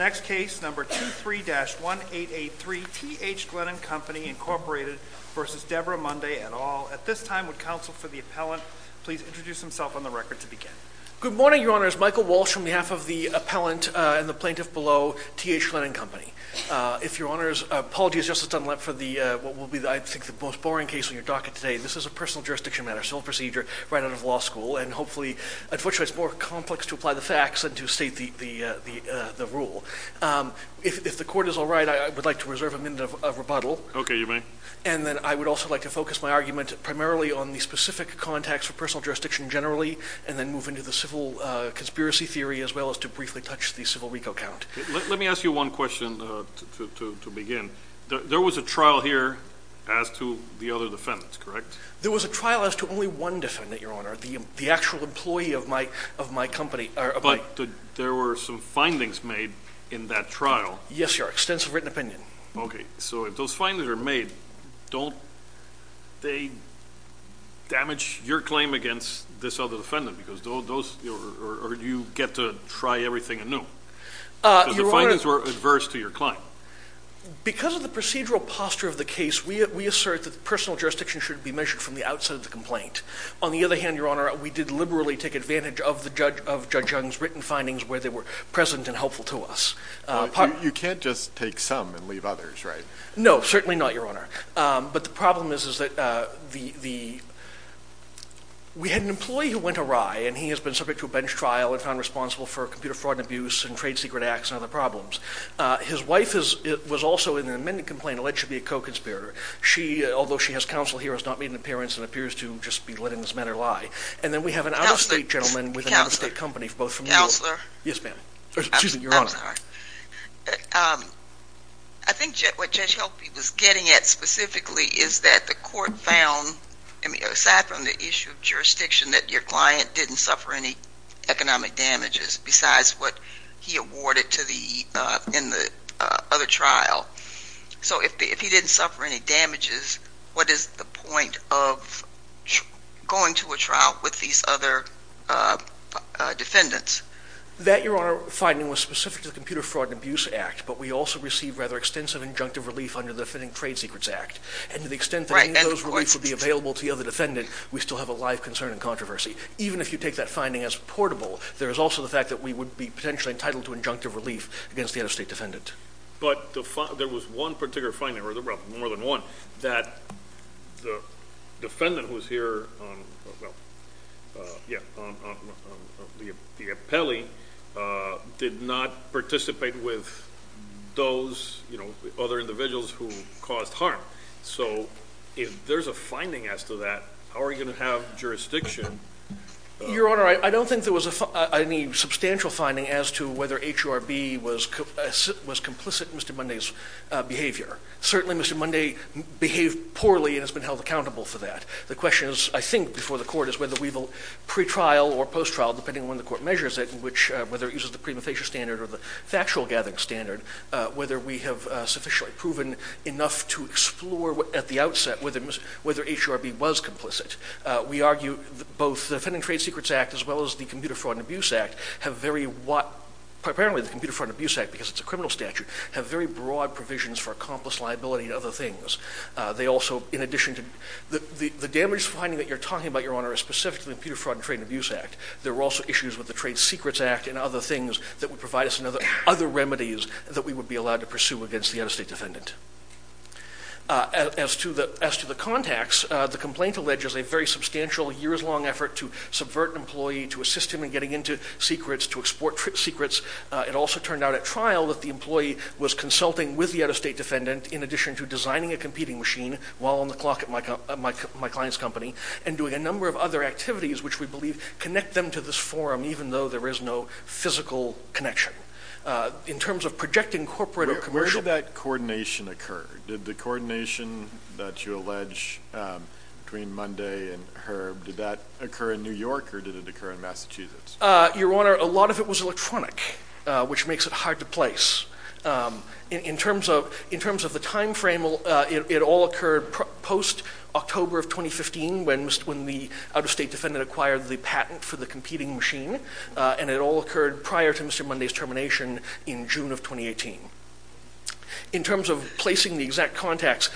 et al. At this time, would Counsel for the Appellant please introduce himself on the record to begin? Good morning, Your Honors. Michael Walsh, on behalf of the Appellant and the Plaintiff below, T. H. Glennon Co. If Your Honors, apologies Justice Dunlap for what will be, I think, the most boring case on your docket today. This is a personal jurisdiction matter, civil procedure, right out of law school, and hopefully, unfortunately, it's more complex to apply the facts than to state the rule. If the Court is all right, I would like to reserve a minute of rebuttal. Okay, you may. And then I would also like to focus my argument primarily on the specific context for personal jurisdiction generally, and then move into the civil conspiracy theory as well as to briefly touch the civil RICO count. Let me ask you one question to begin. There was a trial here as to the other defendants, correct? There was a trial as to only one defendant, Your Honor, the actual employee of my company. But there were some findings made in that trial. Yes, Your Honor, extensive written opinion. Okay, so if those findings are made, don't they damage your claim against this other defendant? Because those, or do you get to try everything anew? Because the findings were adverse to your claim. Because of the procedural posture of the case, we assert that the personal jurisdiction should be measured from the outset of the complaint. On the other hand, Your Honor, we did liberally take advantage of Judge Young's written findings where they were present and helpful to us. You can't just take some and leave others, right? No, certainly not, Your Honor. But the problem is that we had an employee who went awry, and he has been subject to a bench trial and found responsible for computer fraud and abuse and trade secret acts and other problems. His wife was also in an amended complaint alleged to be a co-conspirator. She, although she has counsel here, has not made an appearance and appears to just be letting this matter lie. And then we have an out-of-state gentleman with an out-of-state company, both from New Counselor? Yes, ma'am. Excuse me, Your Honor. I'm sorry. I think what Judge Helpy was getting at specifically is that the court found, aside from the issue of jurisdiction, that your client didn't suffer any economic damages besides what he awarded in the other trial. So if he didn't suffer any damages, what is the point of going to a trial with these other defendants? That, Your Honor, finding was specific to the Computer Fraud and Abuse Act, but we also received rather extensive injunctive relief under the Defending Trade Secrets Act. And to the extent that any of those reliefs would be available to the other defendant, we still have a live concern and controversy. Even if you take that finding as reportable, there is also the fact that we would be potentially entitled to injunctive relief against the out-of-state defendant. But there was one particular finding, or more than one, that the defendant who was here on the appellee did not participate with those other individuals who caused harm. So if there's a finding as to that, how are you going to have jurisdiction? Your Honor, I don't think there was any substantial finding as to whether H.U.R.B. was complicit in Mr. Munday's behavior. Certainly Mr. Munday behaved poorly and has been held accountable for that. The question, I think, before the Court is whether we will pre-trial or post-trial, depending on when the Court measures it, whether it uses the prima facie standard or the factual gathering standard, whether we have sufficiently proven enough to explore at the outset whether H.U.R.B. was complicit. We argue that both the Defending Trade Secrets Act as well as the Computer Fraud and Abuse Act have very broad provisions for accomplice liability and other things. The damage finding that you're talking about, Your Honor, is specific to the Computer Fraud and Trade and Abuse Act. There were also issues with the Trade Secrets Act and other things that would provide us with other remedies that we would be allowed to pursue against the out-of-state defendant. As to the contacts, the complaint alleges a very substantial years-long effort to subvert an employee, to assist him in getting into secrets, to export secrets. It also turned out at trial that the employee was consulting with the out-of-state defendant in addition to designing a competing machine while on the clock at my client's company and doing a number of other activities which we believe connect them to this forum even though there is no physical connection. In terms of projecting corporate or commercial— Where did that coordination occur? Did the coordination that you allege between Munday and Herb, did that occur in New York or did it occur in Massachusetts? Your Honor, a lot of it was electronic, which makes it hard to place. In terms of the timeframe, it all occurred post-October of 2015 when the out-of-state defendant acquired the patent for the competing machine, and it all occurred prior to Mr. McNamara's termination in June of 2018. In terms of placing the exact contacts,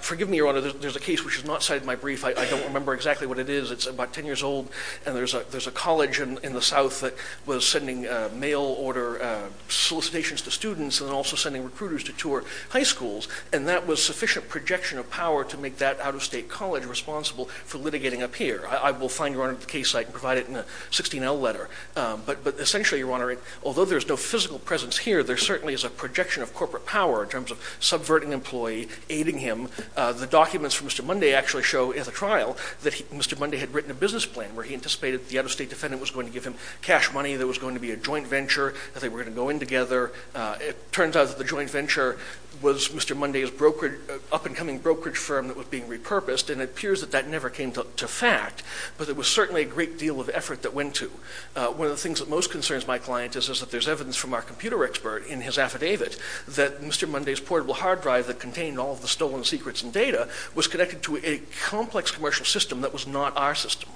forgive me, Your Honor, there's a case which is not cited in my brief. I don't remember exactly what it is. It's about 10 years old, and there's a college in the South that was sending mail order solicitations to students and also sending recruiters to tour high schools, and that was sufficient projection of power to make that out-of-state college responsible for litigating a peer. I will find, Your Honor, the case site and provide it in a 16L letter. But essentially, Your Honor, although there's no physical presence here, there certainly is a projection of corporate power in terms of subverting an employee, aiding him. The documents from Mr. Munday actually show at the trial that Mr. Munday had written a business plan where he anticipated the out-of-state defendant was going to give him cash money, there was going to be a joint venture, that they were going to go in together. It turns out that the joint venture was Mr. Munday's up-and-coming brokerage firm that was being repurposed, and it appears that that never came to fact, but there was certainly a great deal of effort that went to. One of the things that most concerns my client is that there's evidence from our computer expert in his affidavit that Mr. Munday's portable hard drive that contained all of the stolen secrets and data was connected to a complex commercial system that was not our system.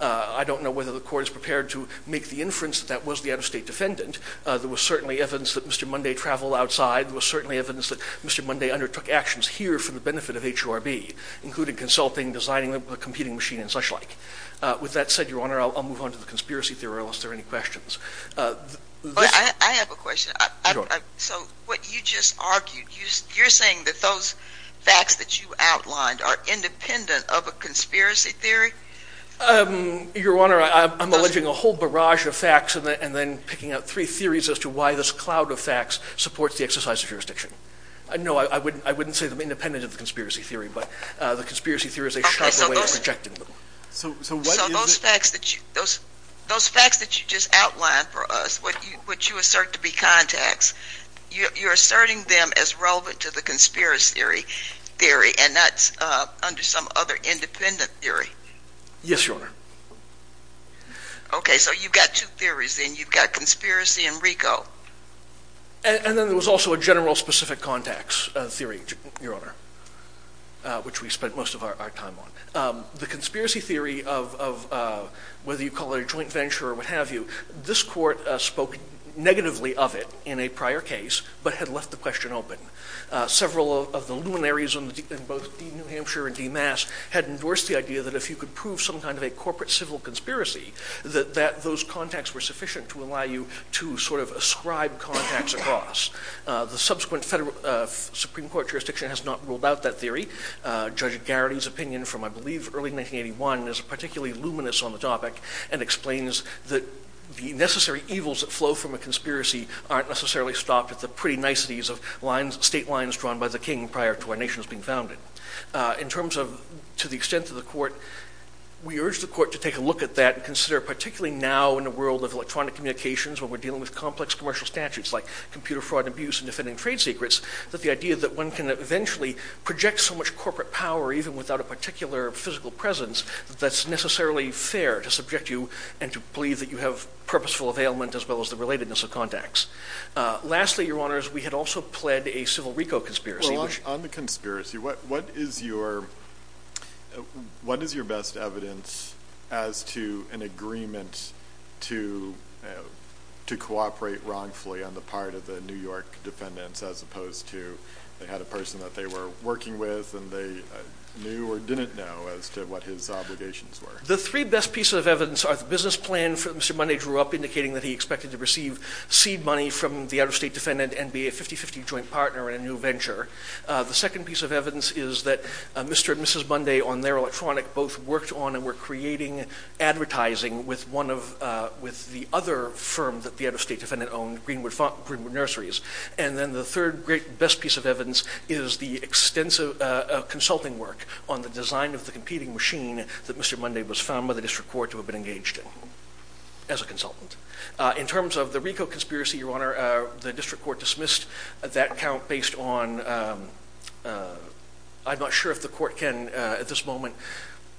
I don't know whether the court is prepared to make the inference that that was the out-of-state defendant. There was certainly evidence that Mr. Munday traveled outside. There was certainly evidence that Mr. Munday undertook actions here for the benefit of HORB, including consulting, designing a computing machine, and such like. With that said, Your Honor, I'll move on to the conspiracy theory, unless there are any questions. I have a question. So what you just argued, you're saying that those facts that you outlined are independent of a conspiracy theory? Your Honor, I'm alleging a whole barrage of facts and then picking out three theories as to why this cloud of facts supports the exercise of jurisdiction. No, I wouldn't say they're independent of the conspiracy theory, but the conspiracy theory is a sharper way of projecting them. So those facts that you just outlined for us, which you assert to be contacts, you're asserting them as relevant to the conspiracy theory, and that's under some other independent theory? Yes, Your Honor. Okay, so you've got two theories then. You've got conspiracy and RICO. And then there was also a general specific contacts theory, Your Honor, which we spent most of our time on. The conspiracy theory of whether you call it a joint venture or what have you, this court spoke negatively of it in a prior case, but had left the question open. Several of the luminaries in both New Hampshire and DeMass had endorsed the idea that if you could prove some kind of a corporate civil conspiracy, that those contacts were sufficient to allow you to sort of ascribe contacts across. The subsequent Supreme Court jurisdiction has not ruled out that theory. Judge Garrity's opinion from, I believe, early 1981 is particularly luminous on the topic and explains that the necessary evils that flow from a conspiracy aren't necessarily stopped at the pretty niceties of state lines drawn by the king prior to our nation's being founded. In terms of to the extent of the court, we urge the court to take a look at that and consider, particularly now in a world of electronic communications where we're dealing with complex commercial statutes like computer fraud and abuse and defending trade secrets, that the idea that one can eventually project so much corporate power, even without a particular physical presence, that that's necessarily fair to subject you and to believe that you have purposeful availment as well as the relatedness of contacts. Lastly, your honors, we had also pled a civil RICO conspiracy. Well, on the conspiracy, what is your best evidence as to an agreement to cooperate wrongfully on the part of the New York defendants as opposed to they had a person that they were working with and they knew or didn't know as to what his obligations were? The three best pieces of evidence are the business plan that Mr. Munday drew up indicating that he expected to receive seed money from the out-of-state defendant and be a 50-50 joint partner in a new venture. The second piece of evidence is that Mr. and Mrs. Munday, on their electronic, both worked on and were creating advertising with the other firm that the out-of-state defendant owned, Greenwood Nurseries. And then the third great best piece of evidence is the extensive consulting work on the design of the competing machine that Mr. Munday was found by the district court to have been engaged as a consultant. In terms of the RICO conspiracy, your honor, the district court dismissed that count based on—I'm not sure if the court can, at this moment,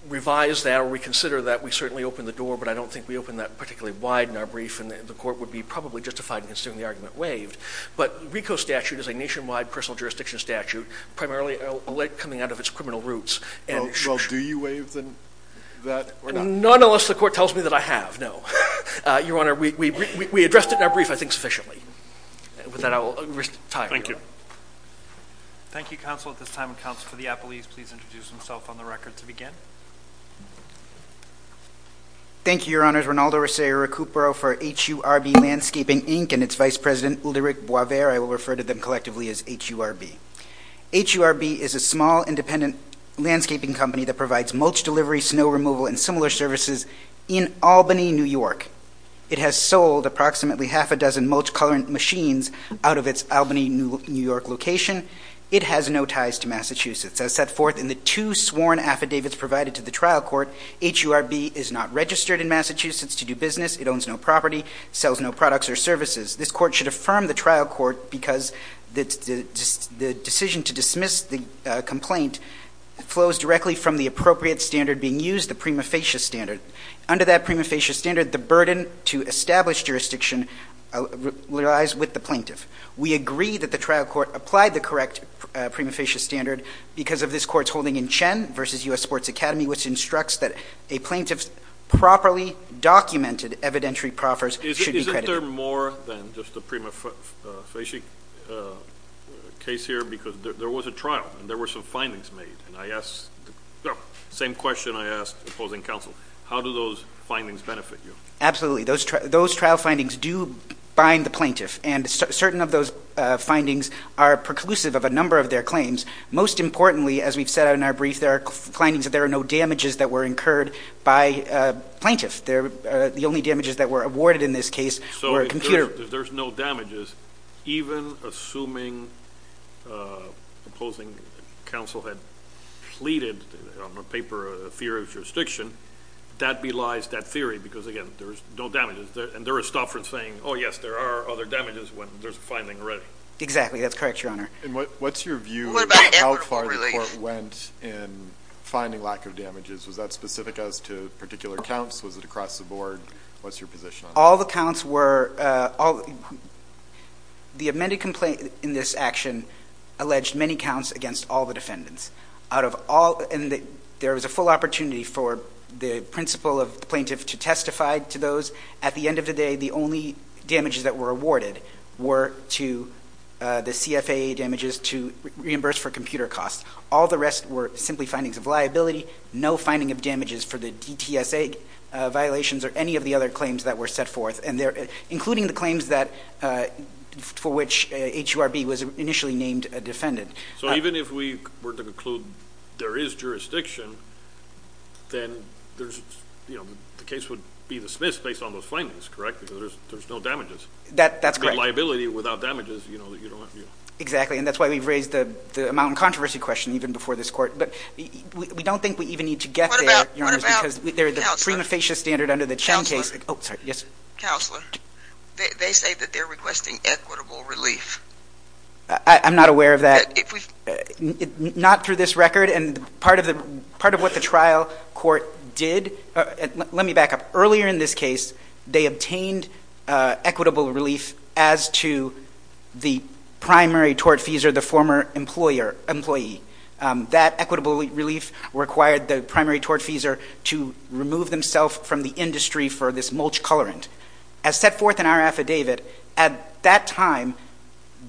revise that or reconsider that. We certainly opened the door, but I don't think we opened that particularly wide in our brief, and the court would be probably justified in considering the argument waived. But RICO statute is a nationwide personal jurisdiction statute, primarily coming out of its criminal roots, and— Well, do you waive that or not? None, unless the court tells me that I have, no. Your honor, we addressed it in our brief, I think, sufficiently. With that, I will retire. Thank you. Thank you, counsel. At this time, would counsel for the appellees please introduce themselves on the record to begin? Thank you, your honors. Rinaldo Rosario-Cupro for HURB Landscaping, Inc., and its vice president, Ulrich Boisvert. I will refer to them collectively as HURB. HURB is a small, independent landscaping company that provides mulch delivery, snow removal, and similar services in Albany, New York. It has sold approximately half a dozen mulch-coloring machines out of its Albany, New York location. It has no ties to Massachusetts. As set forth in the two sworn affidavits provided to the trial court, HURB is not registered in Massachusetts to do business. It owns no property, sells no products or services. This court should affirm the trial court because the decision to dismiss the complaint flows directly from the appropriate standard being used, the prima facie standard. Under that prima facie standard, the burden to establish jurisdiction lies with the plaintiff. We agree that the trial court applied the correct prima facie standard because of this court's holding in Chen v. U.S. Sports Academy, which instructs that a plaintiff's properly documented evidentiary proffers should be credited. Isn't there more than just the prima facie case here? Because there was a trial, and there were some findings made. Same question I asked opposing counsel. How do those findings benefit you? Absolutely. Those trial findings do bind the plaintiff. Certain of those findings are preclusive of a number of their claims. Most importantly, as we've said in our brief, there are findings that there are no damages that were incurred by a plaintiff. The only damages that were awarded in this case were a computer. There's no damages. Even assuming opposing counsel had pleaded on a paper a theory of jurisdiction, that belies that theory because, again, there's no damages. And there is stuff from saying, oh, yes, there are other damages when there's a finding already. That's correct, Your Honor. And what's your view of how far the court went in finding lack of damages? Was that specific as to particular counts? Was it across the board? What's your position on that? All the counts were—the amended complaint in this action alleged many counts against all the defendants. There was a full opportunity for the principle of the plaintiff to testify to those. At the end of the day, the only damages that were awarded were to the CFAA damages to reimburse for computer costs. All the rest were simply findings of liability, no finding of damages for the DTSA violations or any of the other claims that were set forth, including the claims for which HURB was initially named a defendant. So even if we were to conclude there is jurisdiction, then the case would be dismissed based on those findings, correct? Because there's no damages. That's correct. A liability without damages, you know, that you don't— Exactly. And that's why we've raised the amount of controversy question even before this court. But we don't think we even need to get there, Your Honor, because there is a prima facie standard under the Chown case— Oh, sorry. Yes. Counselor, they say that they're requesting equitable relief. I'm not aware of that. Not through this record. And part of what the trial court did—let me back up. Earlier in this case, they obtained equitable relief as to the primary tortfeasor, the former employer—employee. That equitable relief required the primary tortfeasor to remove themselves from the industry for this mulch colorant. As set forth in our affidavit, at that time,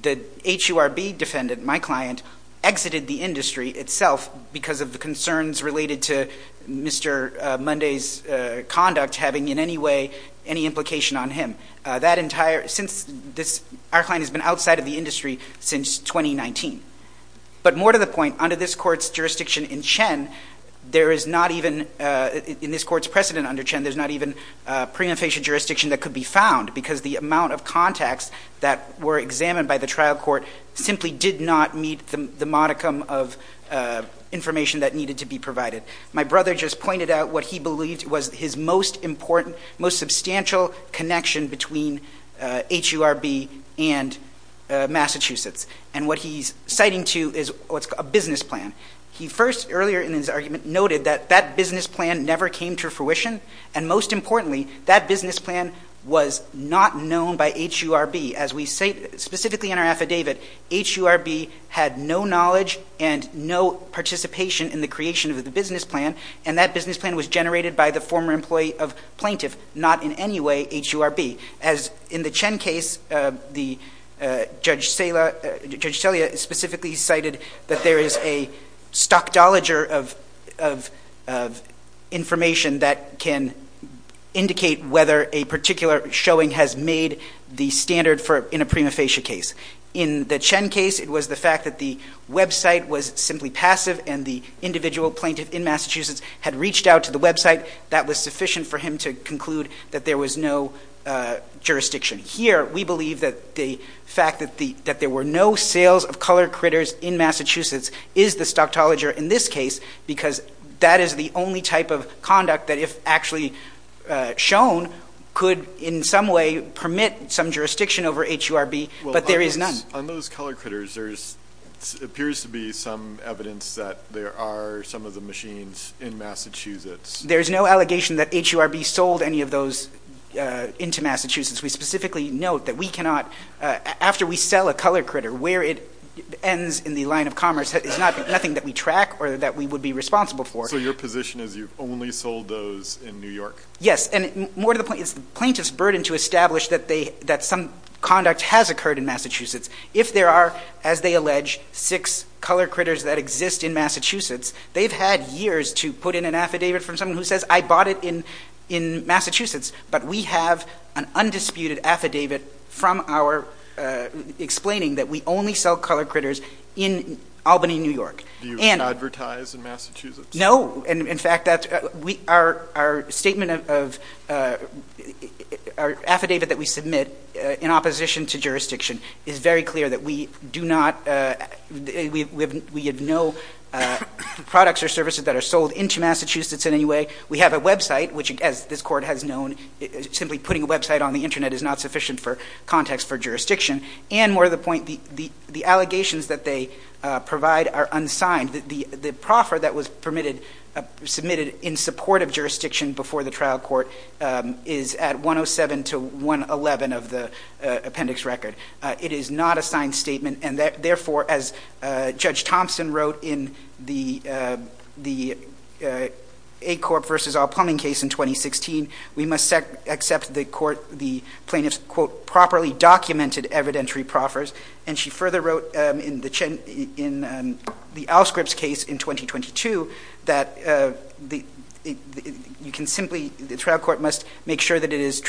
the HURB defendant, my client, exited the industry itself because of the concerns related to Mr. Munday's conduct having in any way any implication on him. That entire—since this—our client has been outside of the industry since 2019. But more to the point, under this court's jurisdiction in Chen, there is not even—in this court's precedent under Chen, there's not even prima facie jurisdiction that could be found because the amount of contacts that were examined by the trial court simply did not meet the modicum of information that needed to be provided. My brother just pointed out what he believed was his most important, most substantial connection between HURB and Massachusetts. And what he's citing, too, is what's called a business plan. He first, earlier in his argument, noted that that business plan never came to fruition. And most importantly, that business plan was not known by HURB. As we say, specifically in our affidavit, HURB had no knowledge and no participation in the creation of the business plan. And that business plan was generated by the former employee of plaintiff, not in any way HURB. As in the Chen case, the Judge Celia specifically cited that there is a stockdoliger of information that can indicate whether a particular showing has made the standard for—in a prima facie case. In the Chen case, it was the fact that the website was simply passive and the individual plaintiff in Massachusetts had reached out to the website. That was sufficient for him to conclude that there was no jurisdiction. Here, we believe that the fact that there were no sales of colored critters in Massachusetts is the stockdoliger in this case, because that is the only type of conduct that, if actually shown, could in some way permit some jurisdiction over HURB. But there is none. On those colored critters, there appears to be some evidence that there are some of the machines in Massachusetts. There's no allegation that HURB sold any of those into Massachusetts. We specifically note that we cannot—after we sell a colored critter, where it ends in the line of commerce, is nothing that we track or that we would be responsible for. So your position is you've only sold those in New York? Yes. And more to the point, it's the plaintiff's burden to establish that some conduct has occurred in Massachusetts. If there are, as they allege, six colored critters that exist in Massachusetts, they've had years to put in an affidavit from someone who says, I bought it in Massachusetts. But we have an undisputed affidavit from our—explaining that we only sell colored critters in Albany, New York. Do you advertise in Massachusetts? No. And in fact, that's—our statement of—our affidavit that we submit in opposition to jurisdiction is very clear that we do not—we have no products or services that are sold into Massachusetts in any way. We have a website, which, as this Court has known, simply putting a website on the internet is not sufficient for context for jurisdiction. And more to the point, the allegations that they provide are unsigned. The proffer that was permitted—submitted in support of jurisdiction before the trial court is at 107 to 111 of the appendix record. It is not a signed statement. And therefore, as Judge Thompson wrote in the A Corp versus All Plumbing case in 2016, we must accept the court—the plaintiff's, quote, properly documented evidentiary proffers. And she further wrote in the Al Scripps case in 2022 that the—you can simply—the trial court must make sure that it is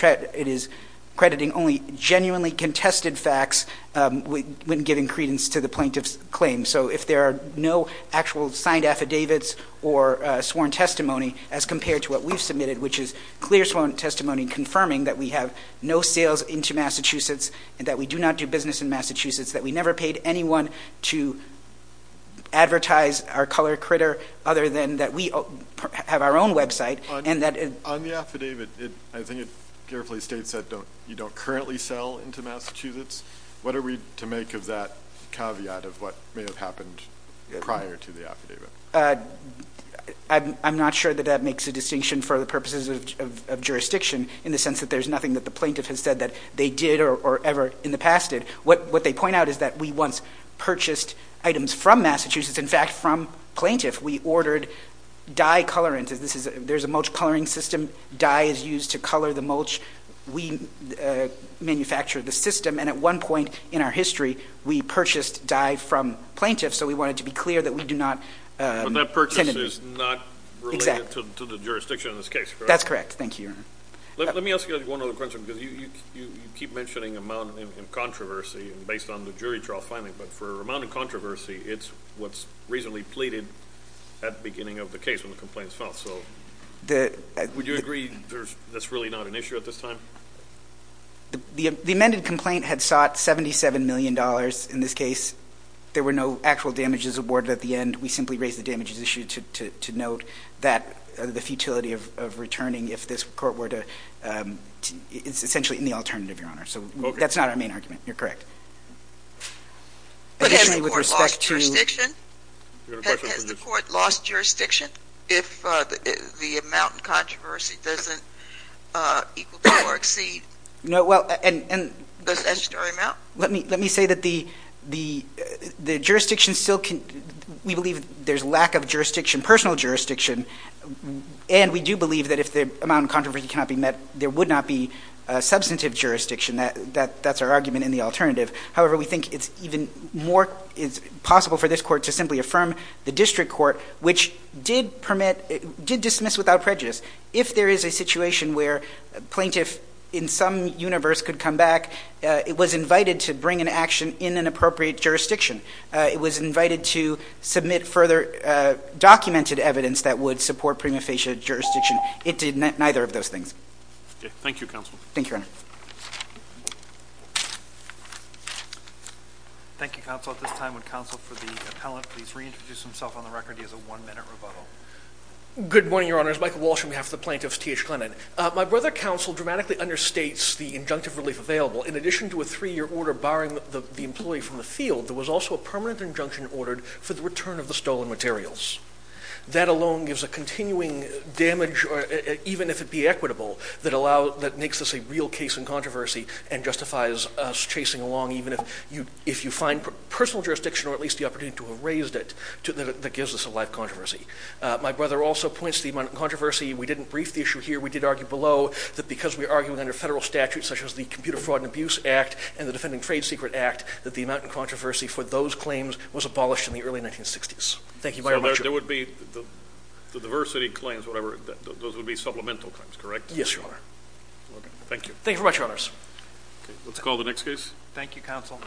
crediting only genuinely contested facts when giving credence to the plaintiff's claim. So if there are no actual signed affidavits or sworn testimony as compared to what we've submitted, which is clear sworn testimony confirming that we have no sales into Massachusetts and that we do not do business in Massachusetts, that we never paid anyone to advertise our color critter other than that we have our own website, and that— On the affidavit, I think it carefully states that you don't currently sell into Massachusetts. What are we to make of that caveat of what may have happened prior to the affidavit? I'm not sure that that makes a distinction for the purposes of jurisdiction in the sense that there's nothing that the plaintiff has said that they did or ever in the past did. What they point out is that we once purchased items from Massachusetts, in fact, from plaintiff. We ordered dye colorants. There's a mulch coloring system. Dye is used to color the mulch. We manufactured the system. And at one point in our history, we purchased dye from plaintiffs. So we wanted to be clear that we do not— But that purchase is not related to the jurisdiction in this case, correct? That's correct. Thank you, Your Honor. Let me ask you one other question because you keep mentioning amount in controversy based on the jury trial finding. But for amount in controversy, it's what's reasonably pleaded at the beginning of the case when the complaint is filed. So would you agree that's really not an issue at this time? The amended complaint had sought $77 million. In this case, there were no actual damages awarded at the end. We simply raised the damages issue to note that the futility of returning if this court were to—it's essentially in the alternative, Your Honor. So that's not our main argument. You're correct. But has the court lost jurisdiction if the amount in controversy doesn't equal to or exceed the statutory amount? Let me say that the jurisdiction still can—we believe there's lack of jurisdiction, personal jurisdiction, and we do believe that if the amount in controversy cannot be met, there would not be substantive jurisdiction. That's our argument in the alternative. However, we think it's even more—it's possible for this court to simply affirm the district court, which did permit—did dismiss without prejudice. If there is a situation where a plaintiff in some universe could come back, it was invited to bring an action in an appropriate jurisdiction. It was invited to submit further documented evidence that would support prima facie jurisdiction. It did neither of those things. Thank you, Counsel. Thank you, Your Honor. Thank you, Counsel. At this time, would Counsel for the appellant please reintroduce himself on the record? He has a one-minute rebuttal. Good morning, Your Honors. Michael Walsh on behalf of the plaintiffs, T.H. Clennon. My brother, Counsel, dramatically understates the injunctive relief available. In addition to a three-year order barring the employee from the field, there was also a permanent injunction ordered for the return of the stolen materials. That alone gives a continuing damage, even if it be equitable, that makes this a real case in controversy and justifies us chasing along, even if you find personal jurisdiction or at least the opportunity to have raised it, that gives us a live controversy. My brother also points to the amount of controversy. We didn't brief the issue here. We did argue below that because we are arguing under federal statutes, such as the Computer Fraud and Abuse Act and the Defending Trade Secret Act, that the amount of controversy for those claims was abolished in the early 1960s. Thank you very much. There would be the diversity claims, whatever, those would be supplemental claims, correct? Yes, Your Honor. Thank you. Thank you very much, Your Honors. Let's call the next case. Thank you, Counsel.